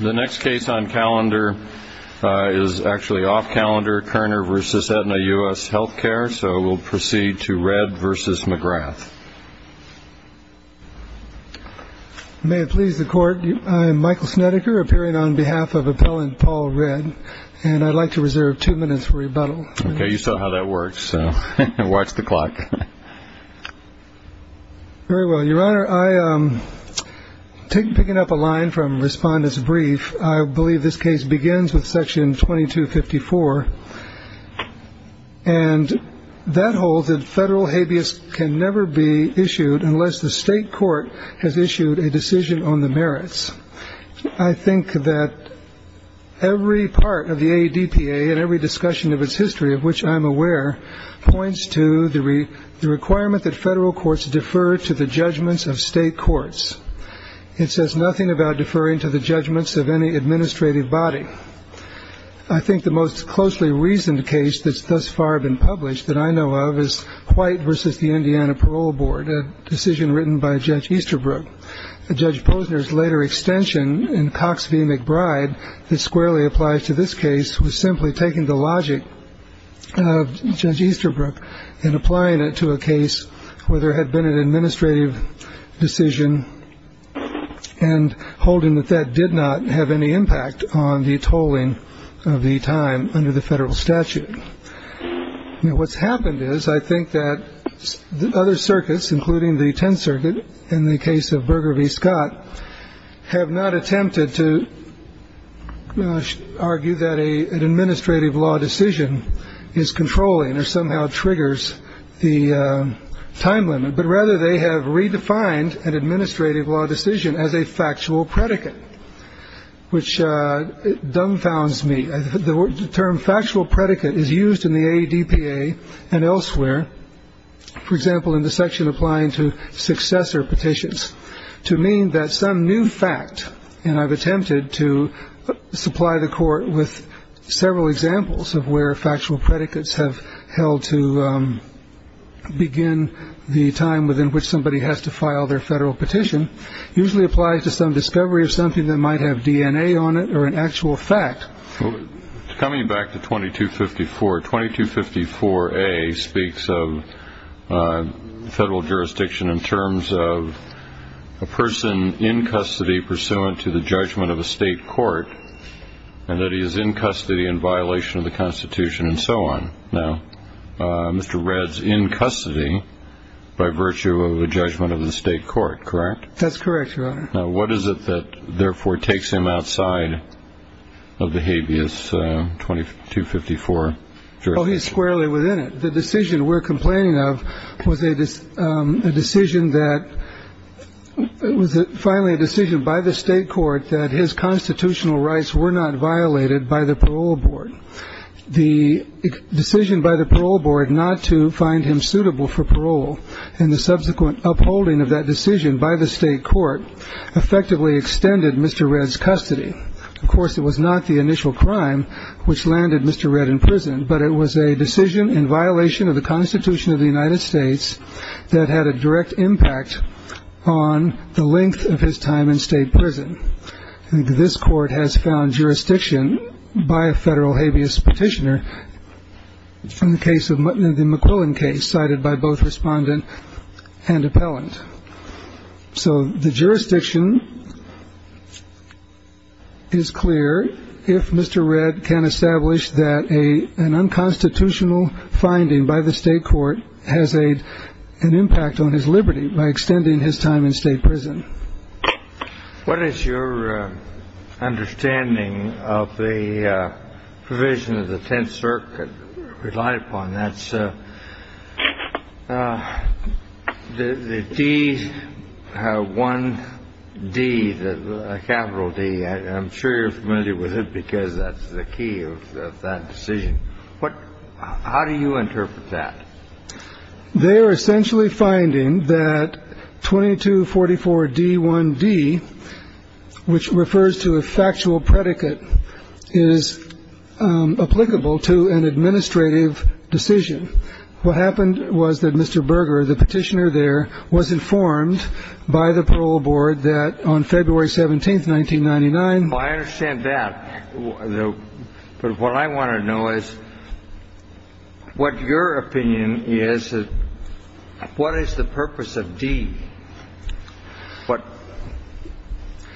The next case on calendar is actually off calendar, Kerner v. Aetna U.S. Healthcare, so we'll proceed to Redd v. McGrath. May it please the Court, I am Michael Snedeker, appearing on behalf of Appellant Paul Redd, and I'd like to reserve two minutes for rebuttal. Okay, you saw how that works, so watch the clock. Very well, Your Honor, picking up a line from Respondent's brief, I believe this case begins with section 2254, and that holds that federal habeas can never be issued unless the state court has issued a decision on the merits. I think that every part of the ADPA and every discussion of its history, of which I'm aware, points to the requirement that federal courts defer to the judgments of state courts. It says nothing about deferring to the judgments of any administrative body. I think the most closely reasoned case that's thus far been published that I know of is White v. the Indiana Parole Board, a decision written by Judge Easterbrook. Judge Posner's later extension in Cox v. McBride that squarely applies to this case was simply taking the logic of Judge Easterbrook and applying it to a case where there had been an administrative decision and holding that that did not have any impact on the tolling of the time under the federal statute. What's happened is I think that other circuits, including the Tenth Circuit, in the case of Berger v. Scott, have not attempted to argue that an administrative law decision is controlling or somehow triggers the time limit, but rather they have redefined an administrative law decision as a factual predicate, which dumbfounds me. The term factual predicate is used in the ADPA and elsewhere, for example, in the section applying to successor petitions to mean that some new fact, and I've attempted to supply the court with several examples of where factual predicates have held to begin the time within which somebody has to file their federal petition, usually applies to some discovery of something that might have DNA on it or an actual fact. Coming back to 2254, 2254A speaks of federal jurisdiction in terms of a person in custody pursuant to the judgment of a state court and that he is in custody in violation of the Constitution and so on. Now, Mr. Red's in custody by virtue of a judgment of the state court, correct? That's correct, Your Honor. Now, what is it that therefore takes him outside of the habeas 2254 jurisdiction? Well, he's squarely within it. The decision we're complaining of was a decision that was finally a decision by the state court that his constitutional rights were not violated by the parole board. The decision by the parole board not to find him suitable for parole and the subsequent upholding of that decision by the state court effectively extended Mr. Red's custody. Of course, it was not the initial crime which landed Mr. Red in prison, but it was a decision in violation of the Constitution of the United States that had a direct impact on the length of his time in state prison. This court has found jurisdiction by a federal habeas petitioner in the case of the McQuillan case, cited by both respondent and appellant. So the jurisdiction is clear if Mr. Red can establish that an unconstitutional finding by the state court has an impact on his liberty by extending his time in state prison. What is your understanding of the provision of the Tenth Circuit relied upon? That's the D1D, the capital D. I'm sure you're familiar with it because that's the key of that decision. How do you interpret that? They are essentially finding that 2244D1D, which refers to a factual predicate, is applicable to an administrative decision. What happened was that Mr. Berger, the petitioner there, was informed by the parole board that on February 17th, 1999. I understand that. But what I want to know is what your opinion is, what is the purpose of D?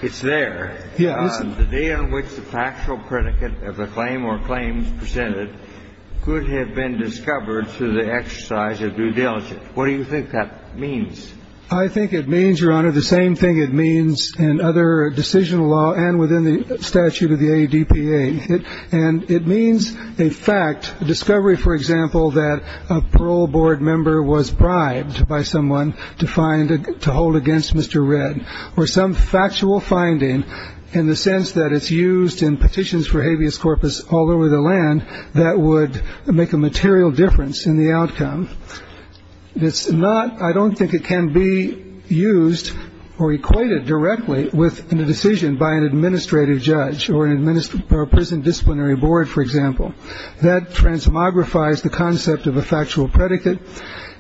It's there. The day on which the factual predicate of a claim or claims presented could have been discovered through the exercise of due diligence. What do you think that means? I think it means, Your Honor, the same thing it means in other decision law and within the statute of the ADPA. And it means a fact, a discovery, for example, that a parole board member was bribed by someone to hold against Mr. Redd or some factual finding in the sense that it's used in petitions for habeas corpus all over the land that would make a material difference in the outcome. It's not. I don't think it can be used or equated directly with a decision by an administrative judge or administer a prison disciplinary board, for example, that transmogrifies the concept of a factual predicate.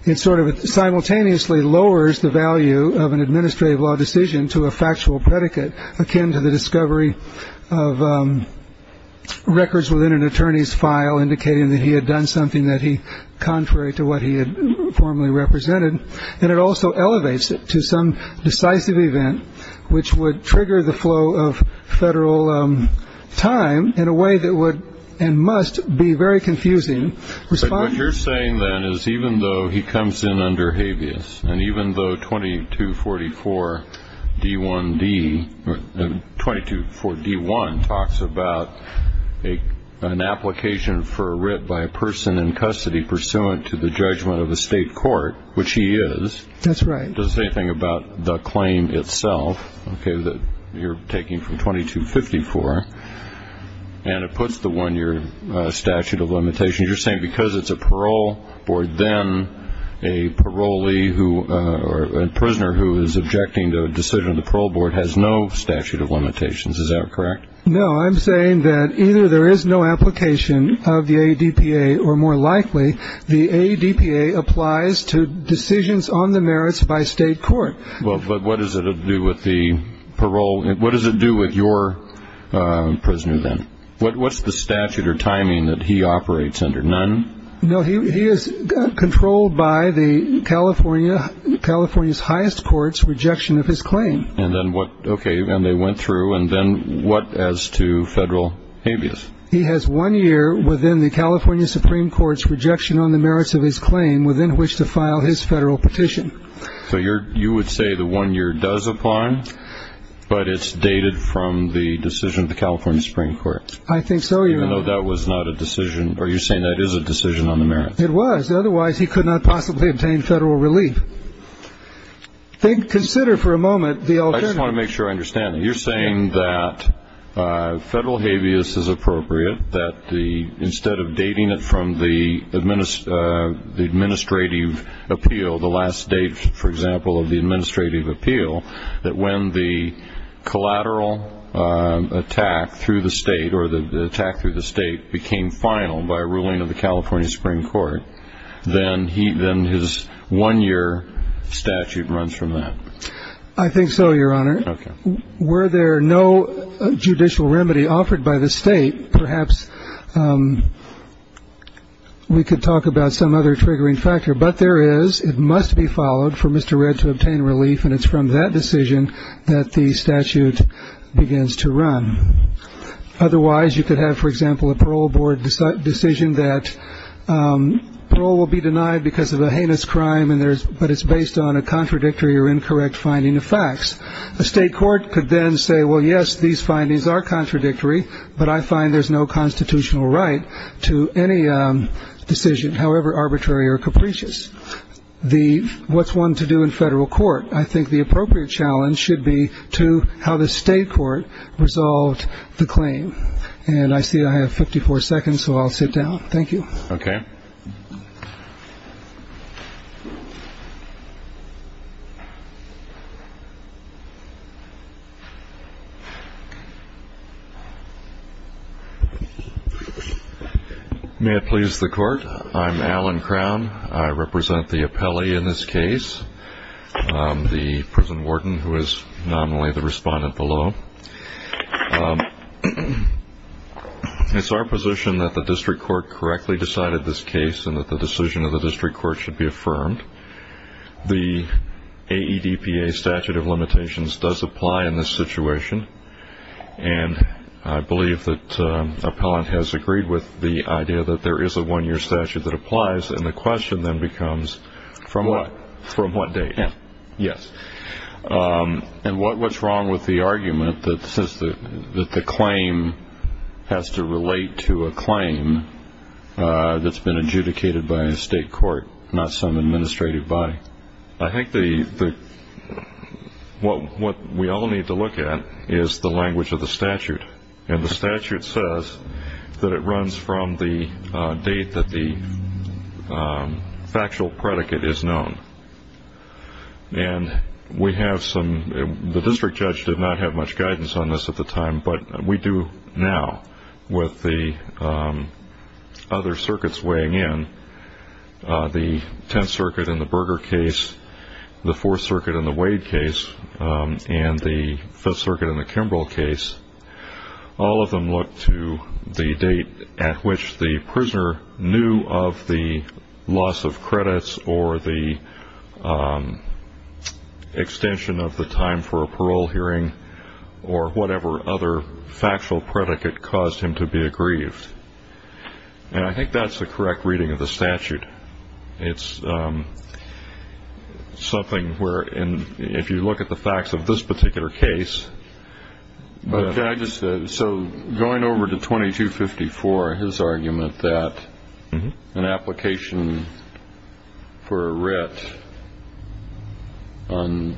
It sort of simultaneously lowers the value of an administrative law decision to a factual predicate akin to the discovery of records within an attorney's file, indicating that he had done something that he contrary to what he had formerly represented. And it also elevates it to some decisive event which would trigger the flow of federal time in a way that would and must be very confusing. What you're saying, then, is even though he comes in under habeas, and even though 2244D1 talks about an application for a writ by a person in custody pursuant to the judgment of a state court, which he is, doesn't say anything about the claim itself that you're taking from 2254, and it puts the one-year statute of limitations, you're saying because it's a parole board, then a parolee or a prisoner who is objecting to a decision of the parole board has no statute of limitations. Is that correct? No. I'm saying that either there is no application of the ADPA or, more likely, the ADPA applies to decisions on the merits by state court. But what does it do with the parole? What does it do with your prisoner, then? What's the statute or timing that he operates under? None? No, he is controlled by the California's highest court's rejection of his claim. And then what? Okay, and they went through, and then what as to federal habeas? He has one year within the California Supreme Court's rejection on the merits of his claim within which to file his federal petition. So you would say the one year does apply, but it's dated from the decision of the California Supreme Court? I think so, Your Honor. Even though that was not a decision, or you're saying that is a decision on the merits? It was. Otherwise, he could not possibly obtain federal relief. Consider for a moment the alternative. I just want to make sure I understand. You're saying that federal habeas is appropriate, that instead of dating it from the administrative appeal, the last date, for example, of the administrative appeal, that when the collateral attack through the state, or the attack through the state, became final by a ruling of the California Supreme Court, then his one-year statute runs from that? I think so, Your Honor. Okay. Were there no judicial remedy offered by the state, perhaps we could talk about some other triggering factor. But there is. It must be followed for Mr. Redd to obtain relief, and it's from that decision that the statute begins to run. Otherwise, you could have, for example, a parole board decision that parole will be denied because of a heinous crime, but it's based on a contradictory or incorrect finding of facts. A state court could then say, well, yes, these findings are contradictory, but I find there's no constitutional right to any decision, however arbitrary or capricious. What's one to do in federal court? I think the appropriate challenge should be to how the state court resolved the claim. And I see I have 54 seconds, so I'll sit down. Thank you. Okay. May it please the Court, I'm Alan Crown. I represent the appellee in this case, the prison warden who is nominally the respondent below. It's our position that the district court correctly decided this case and that the decision of the district court should be affirmed. The AEDPA statute of limitations does apply in this situation, and I believe that the appellant has agreed with the idea that there is a one-year statute that applies, Yes. And what's wrong with the argument that the claim has to relate to a claim that's been adjudicated by a state court, not some administrative body? I think what we all need to look at is the language of the statute. And the statute says that it runs from the date that the factual predicate is known. And the district judge did not have much guidance on this at the time, but we do now with the other circuits weighing in, the Tenth Circuit in the Berger case, the Fourth Circuit in the Wade case, and the Fifth Circuit in the Kimbrell case. All of them look to the date at which the prisoner knew of the loss of credits or the extension of the time for a parole hearing or whatever other factual predicate caused him to be aggrieved. And I think that's the correct reading of the statute. It's something where if you look at the facts of this particular case, So going over to 2254, his argument that an application for a writ on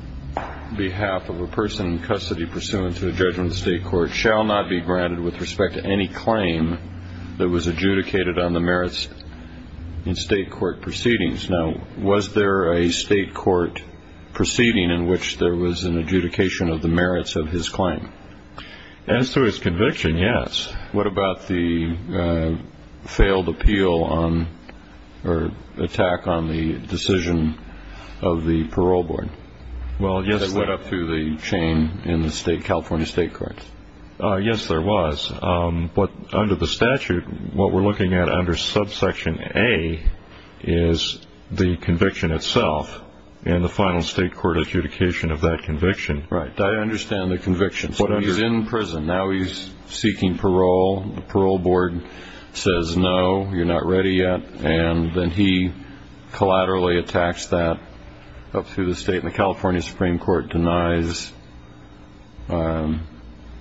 behalf of a person in custody pursuant to a judgment of the state court shall not be granted with respect to any claim that was adjudicated on the merits in state court proceedings. Now, was there a state court proceeding in which there was an adjudication of the merits of his claim? As to his conviction, yes. What about the failed appeal or attack on the decision of the parole board that went up through the chain in the California state courts? Yes, there was. But under the statute, what we're looking at under subsection A is the conviction itself and the final state court adjudication of that conviction. Right. I understand the conviction. So he's in prison. Now he's seeking parole. The parole board says, no, you're not ready yet. And then he collaterally attacks that up through the state. The California Supreme Court denies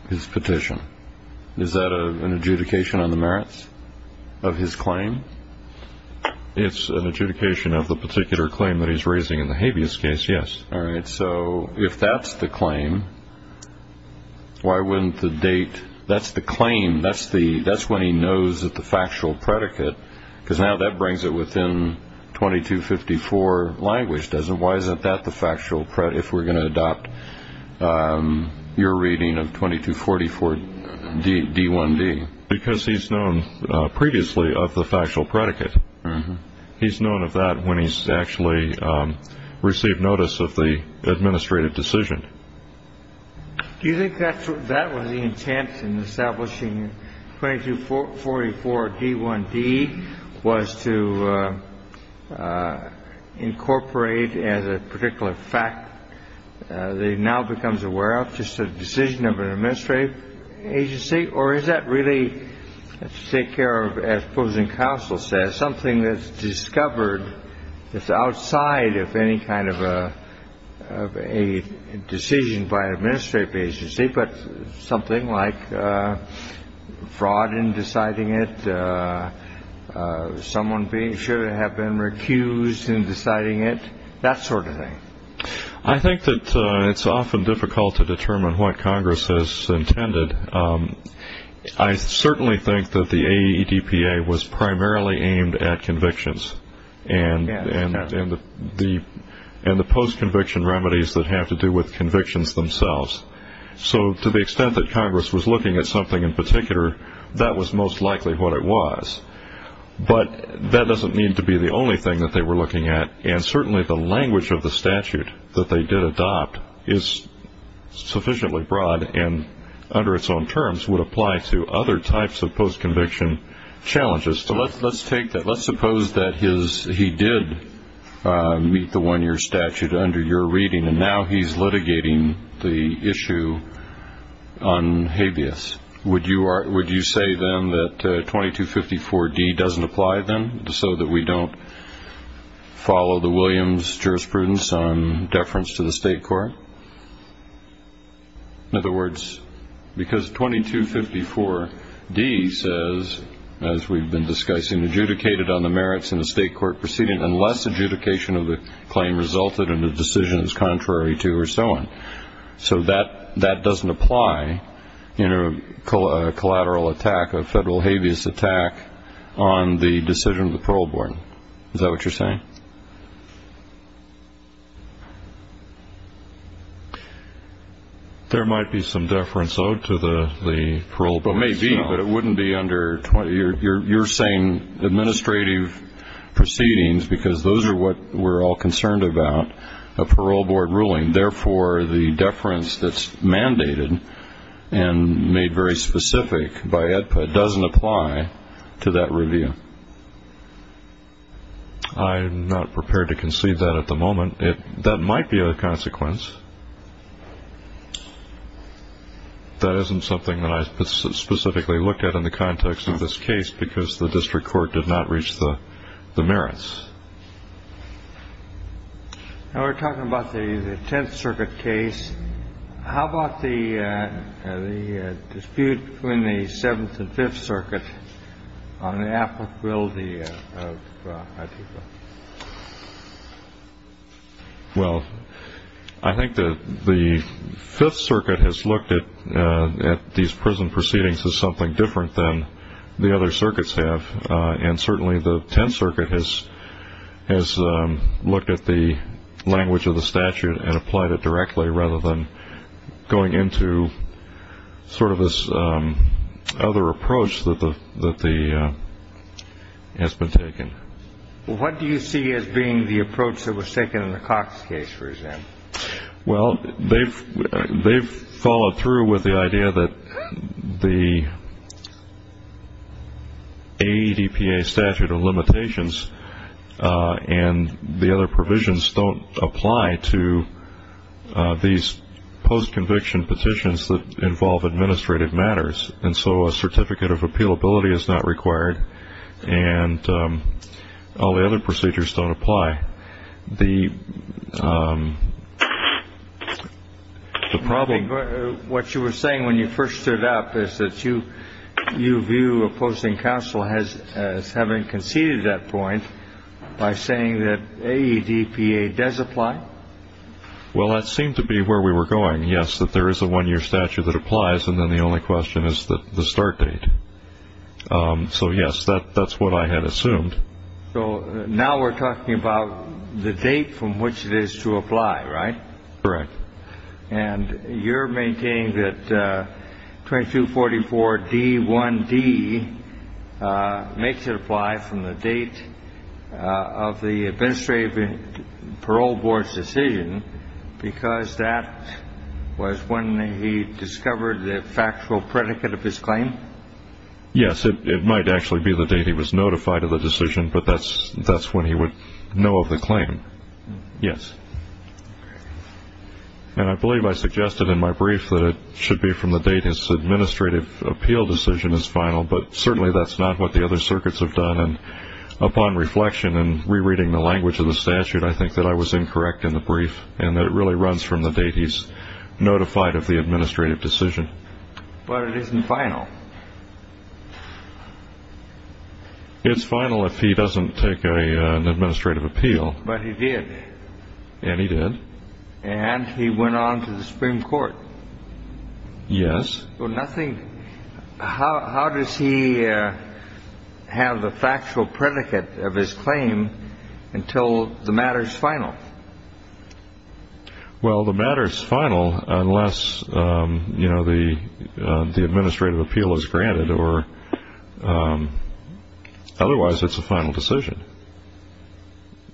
his petition. Is that an adjudication on the merits of his claim? It's an adjudication of the particular claim that he's raising in the habeas case, yes. All right. So if that's the claim, why wouldn't the date? That's the claim. That's when he knows that the factual predicate, because now that brings it within 2254 language, doesn't it? Why isn't that the factual predicate if we're going to adopt your reading of 2244 D1D? Because he's known previously of the factual predicate. He's known of that when he's actually received notice of the administrative decision. Do you think that that was the intent in establishing 2244 D1D was to incorporate as a particular fact? They now becomes aware of just a decision of an administrative agency. Or is that really to take care of as opposing counsel says, or something that's discovered that's outside of any kind of a decision by an administrative agency, but something like fraud in deciding it, someone should have been recused in deciding it, that sort of thing? I think that it's often difficult to determine what Congress has intended. I certainly think that the AEDPA was primarily aimed at convictions and the post-conviction remedies that have to do with convictions themselves. So to the extent that Congress was looking at something in particular, that was most likely what it was. But that doesn't need to be the only thing that they were looking at, and certainly the language of the statute that they did adopt is sufficiently broad and under its own terms would apply to other types of post-conviction challenges. So let's take that. Let's suppose that he did meet the one-year statute under your reading, and now he's litigating the issue on habeas. Would you say then that 2254 D doesn't apply then, so that we don't follow the Williams jurisprudence on deference to the state court? In other words, because 2254 D says, as we've been discussing, adjudicated on the merits in a state court proceeding unless adjudication of the claim resulted and the decision is contrary to or so on. So that doesn't apply in a collateral attack, a federal habeas attack, on the decision of the parole board. Is that what you're saying? There might be some deference owed to the parole board. There may be, but it wouldn't be under 2254 D. You're saying administrative proceedings, because those are what we're all concerned about, a parole board ruling. Therefore, the deference that's mandated and made very specific by AEDPA doesn't apply to that review. I'm not prepared to concede that at the moment. That might be a consequence. That isn't something that I specifically looked at in the context of this case, Now we're talking about the Tenth Circuit case. How about the dispute between the Seventh and Fifth Circuit on the applicability of AEDPA? Well, I think that the Fifth Circuit has looked at these prison proceedings as something different than the other circuits have, and certainly the Tenth Circuit has looked at the language of the statute and applied it directly, rather than going into sort of this other approach that has been taken. What do you see as being the approach that was taken in the Cox case, for example? Well, they've followed through with the idea that the AEDPA statute of limitations and the other provisions don't apply to these post-conviction petitions that involve administrative matters. And so a certificate of appealability is not required, and all the other procedures don't apply. What you were saying when you first stood up is that you view opposing counsel as having conceded that point by saying that AEDPA does apply? Well, that seemed to be where we were going, yes, that there is a one-year statute that applies, and then the only question is the start date. So, yes, that's what I had assumed. So now we're talking about the date from which it is to apply, right? Correct. And you're maintaining that 2244D1D makes it apply from the date of the administrative parole board's decision, because that was when he discovered the factual predicate of his claim? Yes, it might actually be the date he was notified of the decision, but that's when he would know of the claim, yes. And I believe I suggested in my brief that it should be from the date his administrative appeal decision is final, but certainly that's not what the other circuits have done. And upon reflection and rereading the language of the statute, I think that I was incorrect in the brief and that it really runs from the date he's notified of the administrative decision. But it isn't final. It's final if he doesn't take an administrative appeal. But he did. And he did. And he went on to the Supreme Court. Yes. How does he have the factual predicate of his claim until the matter's final? Well, the matter's final unless the administrative appeal is granted, or otherwise it's a final decision.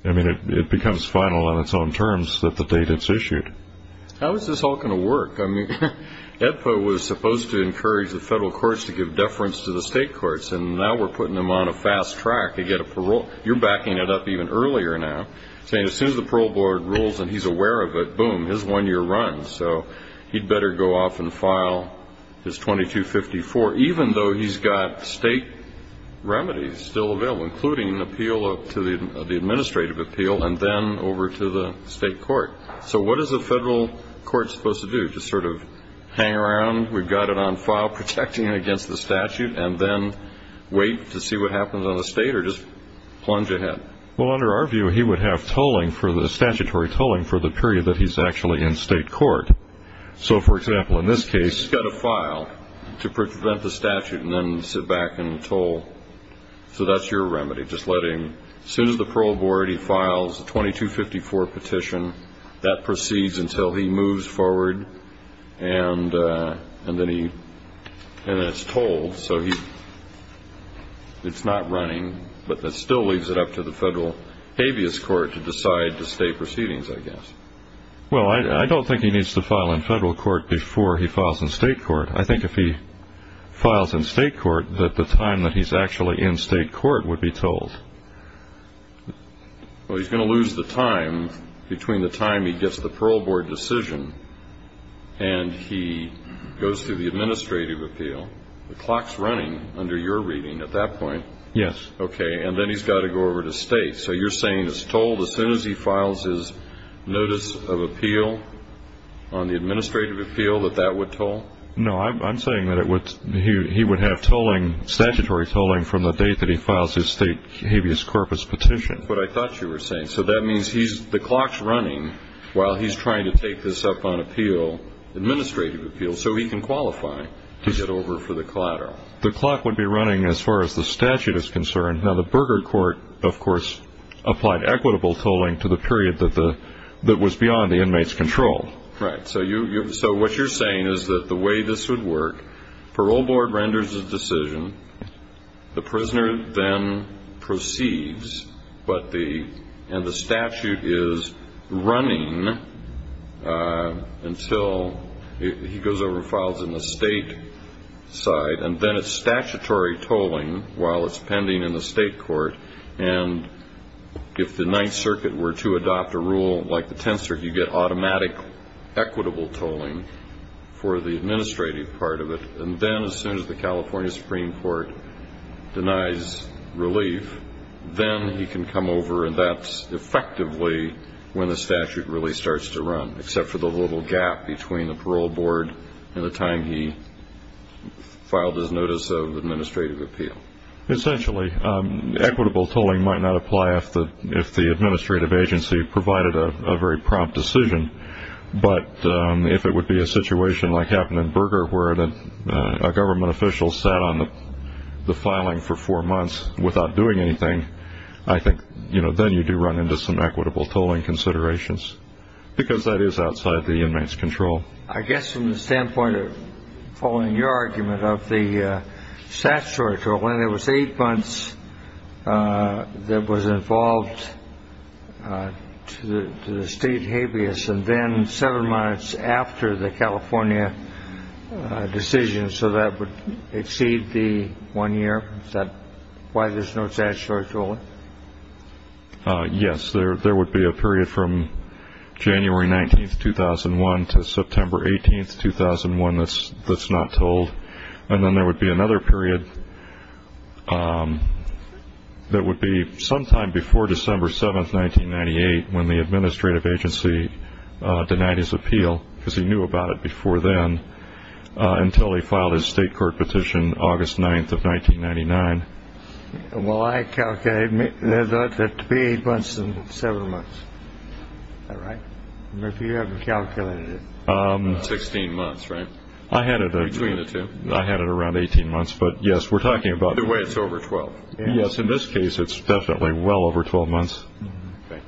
I mean, it becomes final on its own terms that the date it's issued. How is this all going to work? I mean, EPA was supposed to encourage the federal courts to give deference to the state courts, and now we're putting them on a fast track to get a parole. You're backing it up even earlier now, saying as soon as the parole board rules and he's aware of it, boom, his one year runs, so he'd better go off and file his 2254, even though he's got state remedies still available, including an appeal to the administrative appeal and then over to the state court. So what is a federal court supposed to do, just sort of hang around? We've got it on file, protecting it against the statute, and then wait to see what happens on the state or just plunge ahead? Well, under our view, he would have statutory tolling for the period that he's actually in state court. So, for example, in this case he's got to file to prevent the statute and then sit back and toll. So that's your remedy, just letting as soon as the parole board files the 2254 petition, that proceeds until he moves forward and then it's tolled. So it's not running, but that still leaves it up to the federal habeas court to decide the state proceedings, I guess. Well, I don't think he needs to file in federal court before he files in state court. I think if he files in state court that the time that he's actually in state court would be tolled. Well, he's going to lose the time between the time he gets the parole board decision and he goes through the administrative appeal. The clock's running under your reading at that point. Yes. Okay, and then he's got to go over to state. So you're saying it's tolled as soon as he files his notice of appeal on the administrative appeal, that that would toll? No, I'm saying that he would have statutory tolling from the date that he files his state habeas corpus petition. That's what I thought you were saying. So that means the clock's running while he's trying to take this up on appeal, administrative appeal, so he can qualify to get over for the collateral. The clock would be running as far as the statute is concerned. Now, the Berger court, of course, applied equitable tolling to the period that was beyond the inmate's control. Right. So what you're saying is that the way this would work, parole board renders a decision, the prisoner then proceeds, and the statute is running until he goes over and files in the state side, and then it's statutory tolling while it's pending in the state court, and if the Ninth Circuit were to adopt a rule like the Tenth Circuit, you get automatic equitable tolling for the administrative part of it, and then as soon as the California Supreme Court denies relief, then he can come over, and that's effectively when the statute really starts to run, except for the little gap between the parole board and the time he filed his notice of administrative appeal. Essentially, equitable tolling might not apply if the administrative agency provided a very prompt decision, but if it would be a situation like happened in Berger where a government official sat on the filing for four months without doing anything, I think then you do run into some equitable tolling considerations because that is outside the inmate's control. I guess from the standpoint of following your argument of the statutory tolling, when there was eight months that was involved to the state habeas, and then seven months after the California decision so that would exceed the one year, is that why there's no statutory tolling? Yes. There would be a period from January 19, 2001 to September 18, 2001 that's not tolled, and then there would be another period that would be sometime before December 7, 1998, when the administrative agency denied his appeal because he knew about it before then, until he filed his state court petition August 9, 1999. Well, I calculated it to be eight months and seven months. Is that right? If you haven't calculated it. Sixteen months, right? Between the two. I had it around 18 months, but, yes, we're talking about. Either way, it's over 12. Yes. In this case, it's definitely well over 12 months. Okay.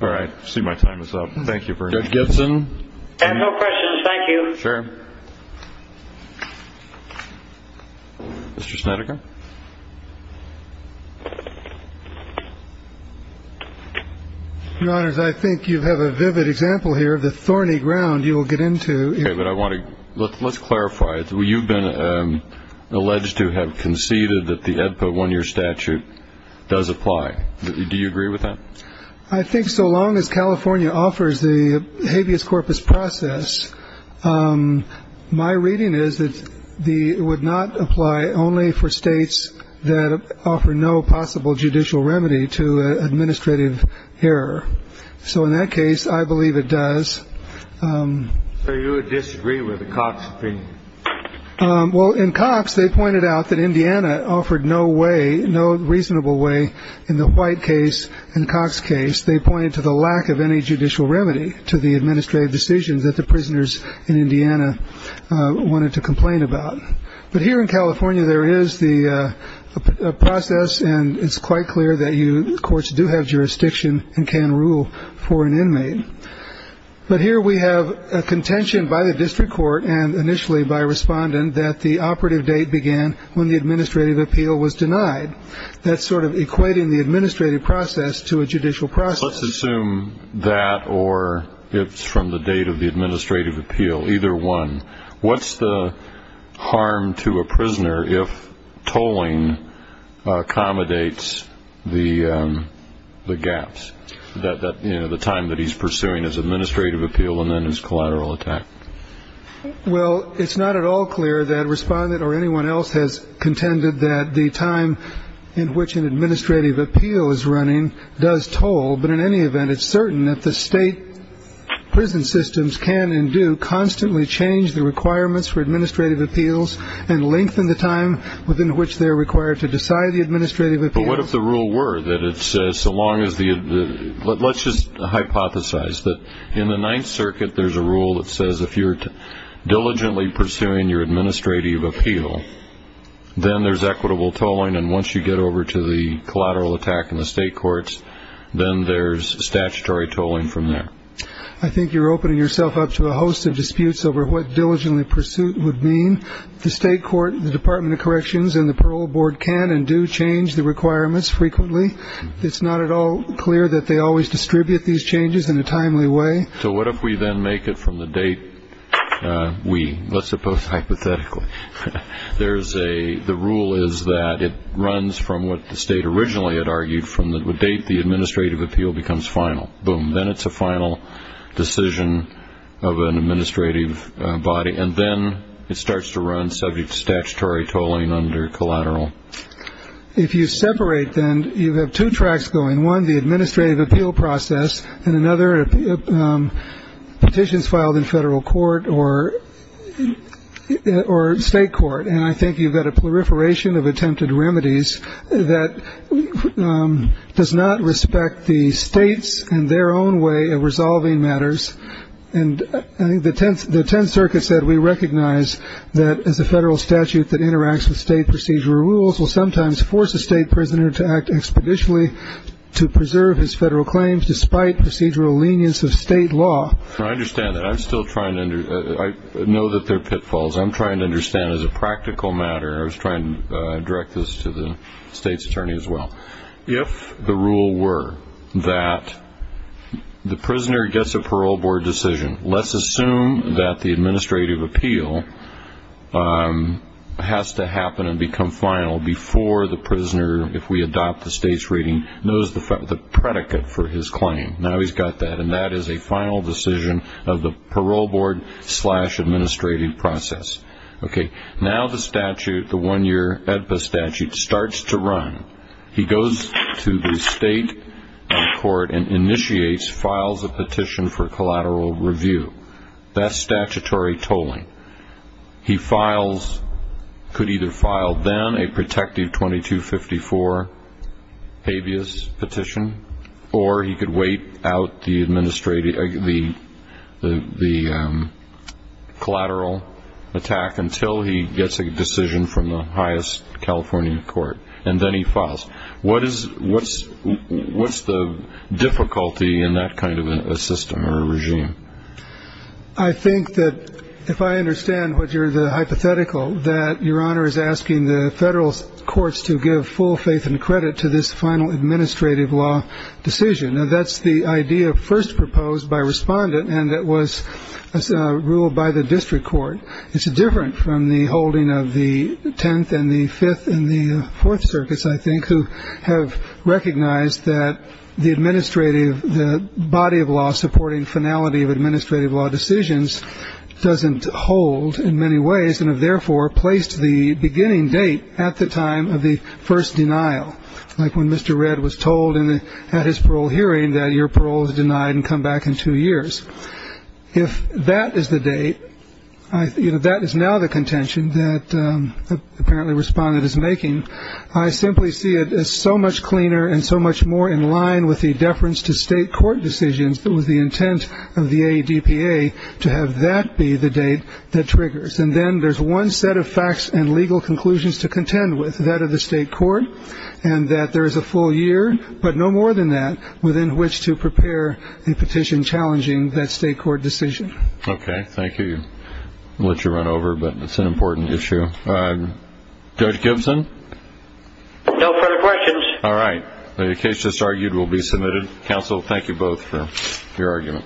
All right. I see my time is up. Thank you, Bernie. Judge Gibson? I have no questions. Thank you. Sure. Mr. Snedeker? Your Honors, I think you have a vivid example here of the thorny ground you will get into. Let's clarify. You've been alleged to have conceded that the EDPA one-year statute does apply. Do you agree with that? I think so long as California offers the habeas corpus process, my reading is that it would not apply only for states that offer no possible judicial remedy to administrative error. So in that case, I believe it does. So you would disagree with the Cox opinion? Well, in Cox, they pointed out that Indiana offered no way, no reasonable way in the White case and Cox case. They pointed to the lack of any judicial remedy to the administrative decisions that the prisoners in Indiana wanted to complain about. But here in California, there is the process, and it's quite clear that you, of course, do have jurisdiction and can rule for an inmate. But here we have a contention by the district court and initially by a respondent that the operative date began when the administrative appeal was denied. That's sort of equating the administrative process to a judicial process. Let's assume that or it's from the date of the administrative appeal, either one. What's the harm to a prisoner if tolling accommodates the gaps that the time that he's pursuing his administrative appeal and then his collateral attack? Well, it's not at all clear that respondent or anyone else has contended that the time in which an administrative appeal is running does toll. But in any event, it's certain that the state prison systems can and do constantly change the requirements for administrative appeals and lengthen the time within which they're required to decide the administrative appeal. But what if the rule were that it says so long as the let's just hypothesize that in the Ninth Circuit, there's a rule that says if you're diligently pursuing your administrative appeal, then there's equitable tolling. And once you get over to the collateral attack in the state courts, then there's statutory tolling from there. I think you're opening yourself up to a host of disputes over what diligently pursuit would mean. The state court, the Department of Corrections and the parole board can and do change the requirements frequently. It's not at all clear that they always distribute these changes in a timely way. So what if we then make it from the date? We let's suppose hypothetically there is a the rule is that it runs from what the state originally had argued from the date. The administrative appeal becomes final. Boom. Then it's a final decision of an administrative body. And then it starts to run subject to statutory tolling under collateral. If you separate them, you have two tracks going. One, the administrative appeal process and another petitions filed in federal court or or state court. And I think you've got a proliferation of attempted remedies that does not respect the states and their own way of resolving matters. And I think the 10th the 10th Circuit said we recognize that as a federal statute that interacts with state procedure, rules will sometimes force a state prisoner to act expeditiously to preserve his federal claims, despite procedural lenience of state law. I understand that I'm still trying to know that they're pitfalls. I'm trying to understand as a practical matter. I was trying to direct this to the state's attorney as well. If the rule were that the prisoner gets a parole board decision, let's assume that the administrative appeal has to happen and become final before the prisoner, if we adopt the state's rating, knows the predicate for his claim. Now he's got that. And that is a final decision of the parole board slash administrative process. OK. Now the statute, the one year statute starts to run. He goes to the state court and initiates, files a petition for collateral review. That's statutory tolling. He files, could either file then a protective 2254 habeas petition, or he could wait out the collateral attack until he gets a decision from the highest California court. And then he files. What's the difficulty in that kind of a system or a regime? I think that if I understand what your hypothetical, that Your Honor is asking the federal courts to give full faith and credit to this final administrative law decision. Now that's the idea first proposed by respondent, and it was ruled by the district court. It's different from the holding of the 10th and the 5th and the 4th circuits, I think, who have recognized that the administrative, the body of law supporting finality of administrative law decisions doesn't hold in many ways, and have therefore placed the beginning date at the time of the first denial. Like when Mr. Red was told at his parole hearing that your parole is denied and come back in two years. If that is the date, that is now the contention that apparently respondent is making. I simply see it as so much cleaner and so much more in line with the deference to state court decisions, but with the intent of the ADPA to have that be the date that triggers. And then there's one set of facts and legal conclusions to contend with that of the state court, and that there is a full year, but no more than that within which to prepare a petition challenging that state court decision. Okay. Thank you. I'll let you run over, but it's an important issue. Judge Gibson. No further questions. All right. The case just argued will be submitted. Counsel, thank you both for your argument.